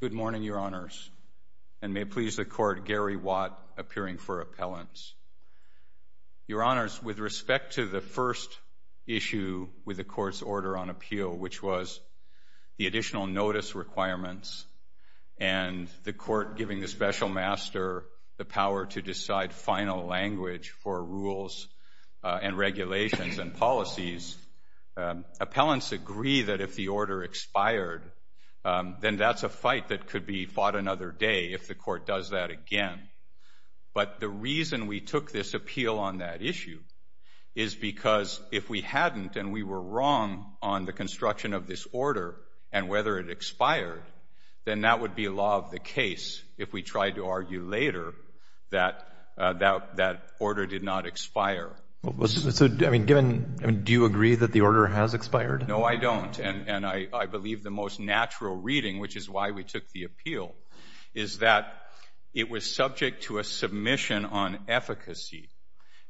Good morning, Your Honors, and may it please the Court, Gary Watt, appearing for appellants. Your Honors, with respect to the first issue with the Court's order on appeal, which was the additional notice requirements and the Court giving the Special Master the power to decide final language for rules and regulations and policies, appellants agree that if the order expired, then that's a fight that could be fought another day if the Court does that again. But the reason we took this appeal on that issue is because if we hadn't and we were wrong on the construction of this order and whether it expired, then that would be law of the case if we tried to argue later that that order did not expire. So, I mean, given, do you agree that the order has expired? No, I don't. And I believe the most natural reading, which is why we took the appeal, is that it was subject to a submission on efficacy.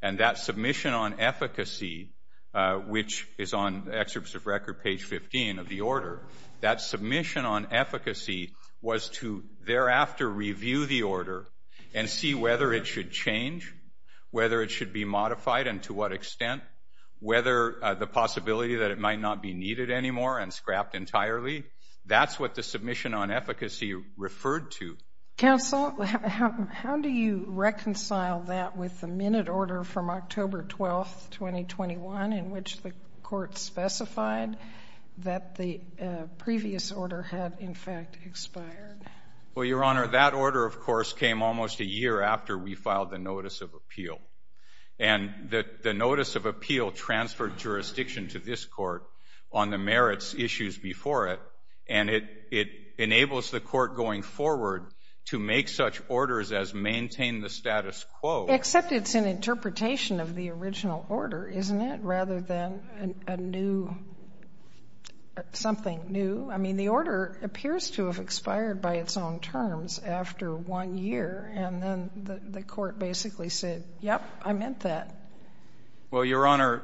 And that submission on efficacy, which is on Excerpts of Record, page 15 of the order, that submission on efficacy was to thereafter review the order and see whether it should change, whether it should be modified and to what extent, whether the possibility that it might not be needed anymore and scrapped entirely, that's what the submission on efficacy referred to. Counsel, how do you reconcile that with the minute order from October 12th, 2021, in which the Court specified that the previous order had, in fact, expired? Well, Your Honor, that order, of course, came almost a year after we filed the notice of appeal. And the notice of appeal transferred jurisdiction to this Court on the merits issues before it. And it enables the Court going forward to make such orders as maintain the status quo. Except it's an interpretation of the original order, isn't it, rather than a new — something new? I mean, the order appears to have expired by its own terms after one year, and then the Court basically said, yep, I meant that. Well, Your Honor,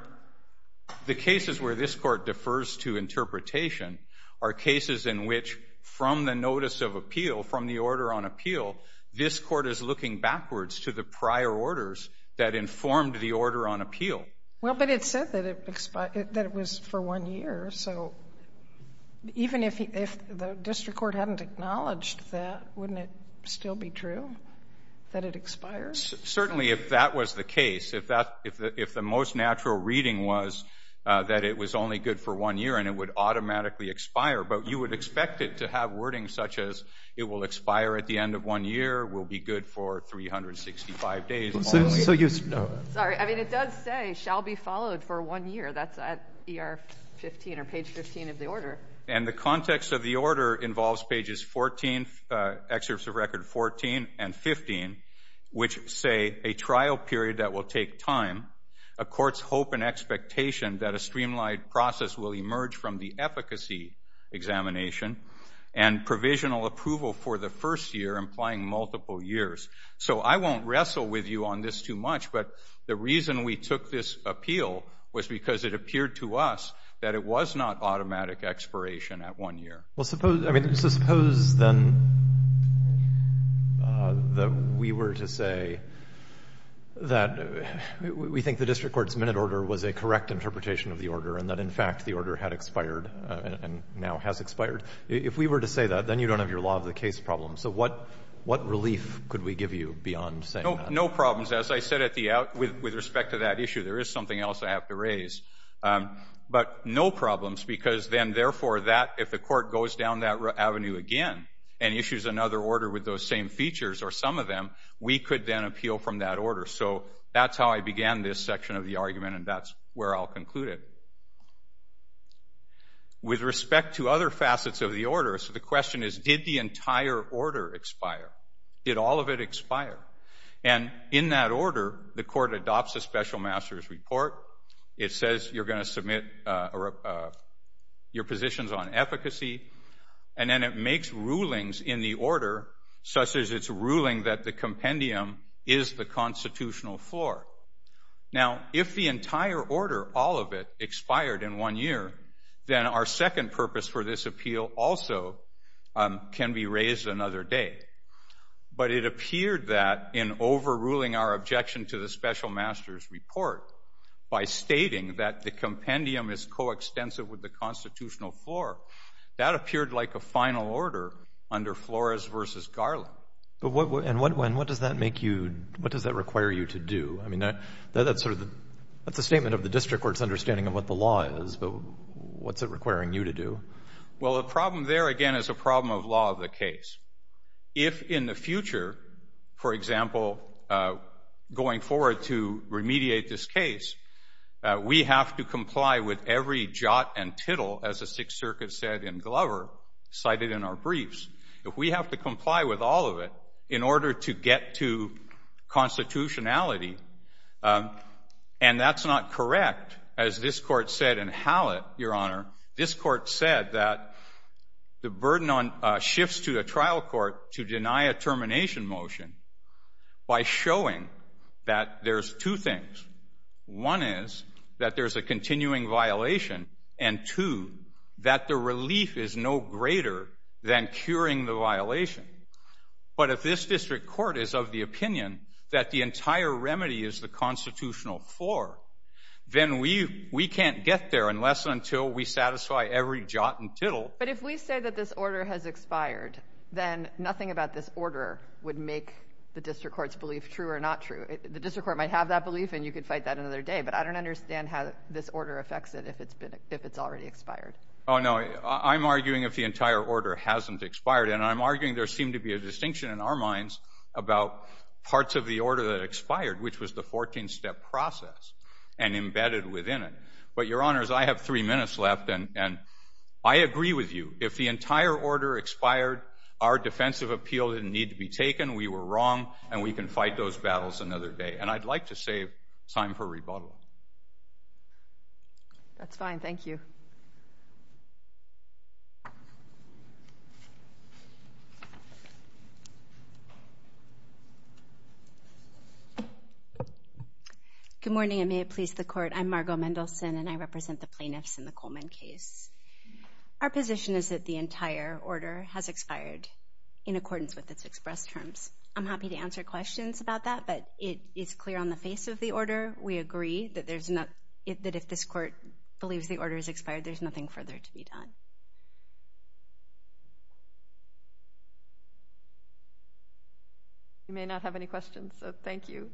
the cases where this Court defers to interpretation are cases in which from the notice of appeal, from the order on appeal, this Court is looking backwards to the prior orders that informed the order on appeal. Well, but it said that it was for one year. So even if the district court hadn't acknowledged that, wouldn't it still be true that it expires? Certainly if that was the case, if the most natural reading was that it was only good for one year and it would automatically expire. But you would expect it to have wording such as it will expire at the end of one year, will be good for 365 days. So you — Sorry. I mean, it does say shall be followed for one year. That's at ER 15 or page 15 of the order. And the context of the order involves pages 14, excerpts of record 14 and 15, which say a trial period that will take time, a court's hope and expectation that a streamlined process will emerge from the efficacy examination, and provisional approval for the first year implying multiple years. So I won't wrestle with you on this too much. But the reason we took this appeal was because it appeared to us that it was not automatic expiration at one year. Well, suppose — I mean, so suppose then that we were to say that we think the district court's minute order was a correct interpretation of the order and that, in fact, the order had expired and now has expired. If we were to say that, then you don't have your law of the case problem. So what relief could we give you beyond saying that? No problems. As I said at the — with respect to that issue, there is something else I have to raise. But no problems because then, therefore, that — if the court goes down that avenue again and issues another order with those same features or some of them, we could then appeal from that order. So that's how I began this section of the argument, and that's where I'll conclude it. Now, with respect to other facets of the order, so the question is, did the entire order expire? Did all of it expire? And in that order, the court adopts a special master's report. It says you're going to submit your positions on efficacy. And then it makes rulings in the order, such as its ruling that the compendium is the constitutional floor. Now, if the entire order, all of it, expired in one year, then our second purpose for this appeal also can be raised another day. But it appeared that in overruling our objection to the special master's report by stating that the compendium is coextensive with the constitutional floor, that appeared like a final order under Flores v. Garland. But what does that make you, what does that require you to do? I mean, that's a statement of the district court's understanding of what the law is, but what's it requiring you to do? Well, the problem there, again, is a problem of law of the case. If in the future, for example, going forward to remediate this case, we have to comply with every jot and tittle, as the Sixth Circuit said in Glover, cited in our briefs, if we have to comply with all of it in order to get to constitutionality. And that's not correct. As this Court said in Hallett, Your Honor, this Court said that the burden shifts to a trial court to deny a termination motion by showing that there's two things. One is that there's a continuing violation, and two, that the relief is no greater than curing the violation. But if this district court is of the opinion that the entire remedy is the constitutional floor, then we can't get there unless and until we satisfy every jot and tittle. But if we say that this order has expired, then nothing about this order would make the district court's belief true or not true. The district court might have that belief, and you could fight that another day, but I don't understand how this order affects it if it's already expired. Oh, no. I'm arguing if the entire order hasn't expired, and I'm arguing there seemed to be a distinction in our minds about parts of the order that expired, which was the 14-step process and embedded within it. But Your Honors, I have three minutes left, and I agree with you. If the entire order expired, our defensive appeal didn't need to be taken, we were wrong, and we can fight those battles another day. And I'd like to save time for rebuttal. That's fine. Thank you. Good morning, and may it please the Court. I'm Margo Mendelson, and I represent the plaintiffs in the Coleman case. Our position is that the entire order has expired in accordance with its express terms. I'm happy to answer questions about that, but it is clear on the face of the order, we agree that if this Court believes the order has expired, there's nothing further to be done. You may not have any questions, so thank you.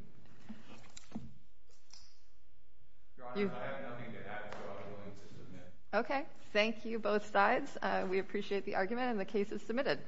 Your Honors, I have nothing to add, so I'm willing to submit. Okay. Thank you, both sides. We appreciate the argument, and the case is submitted.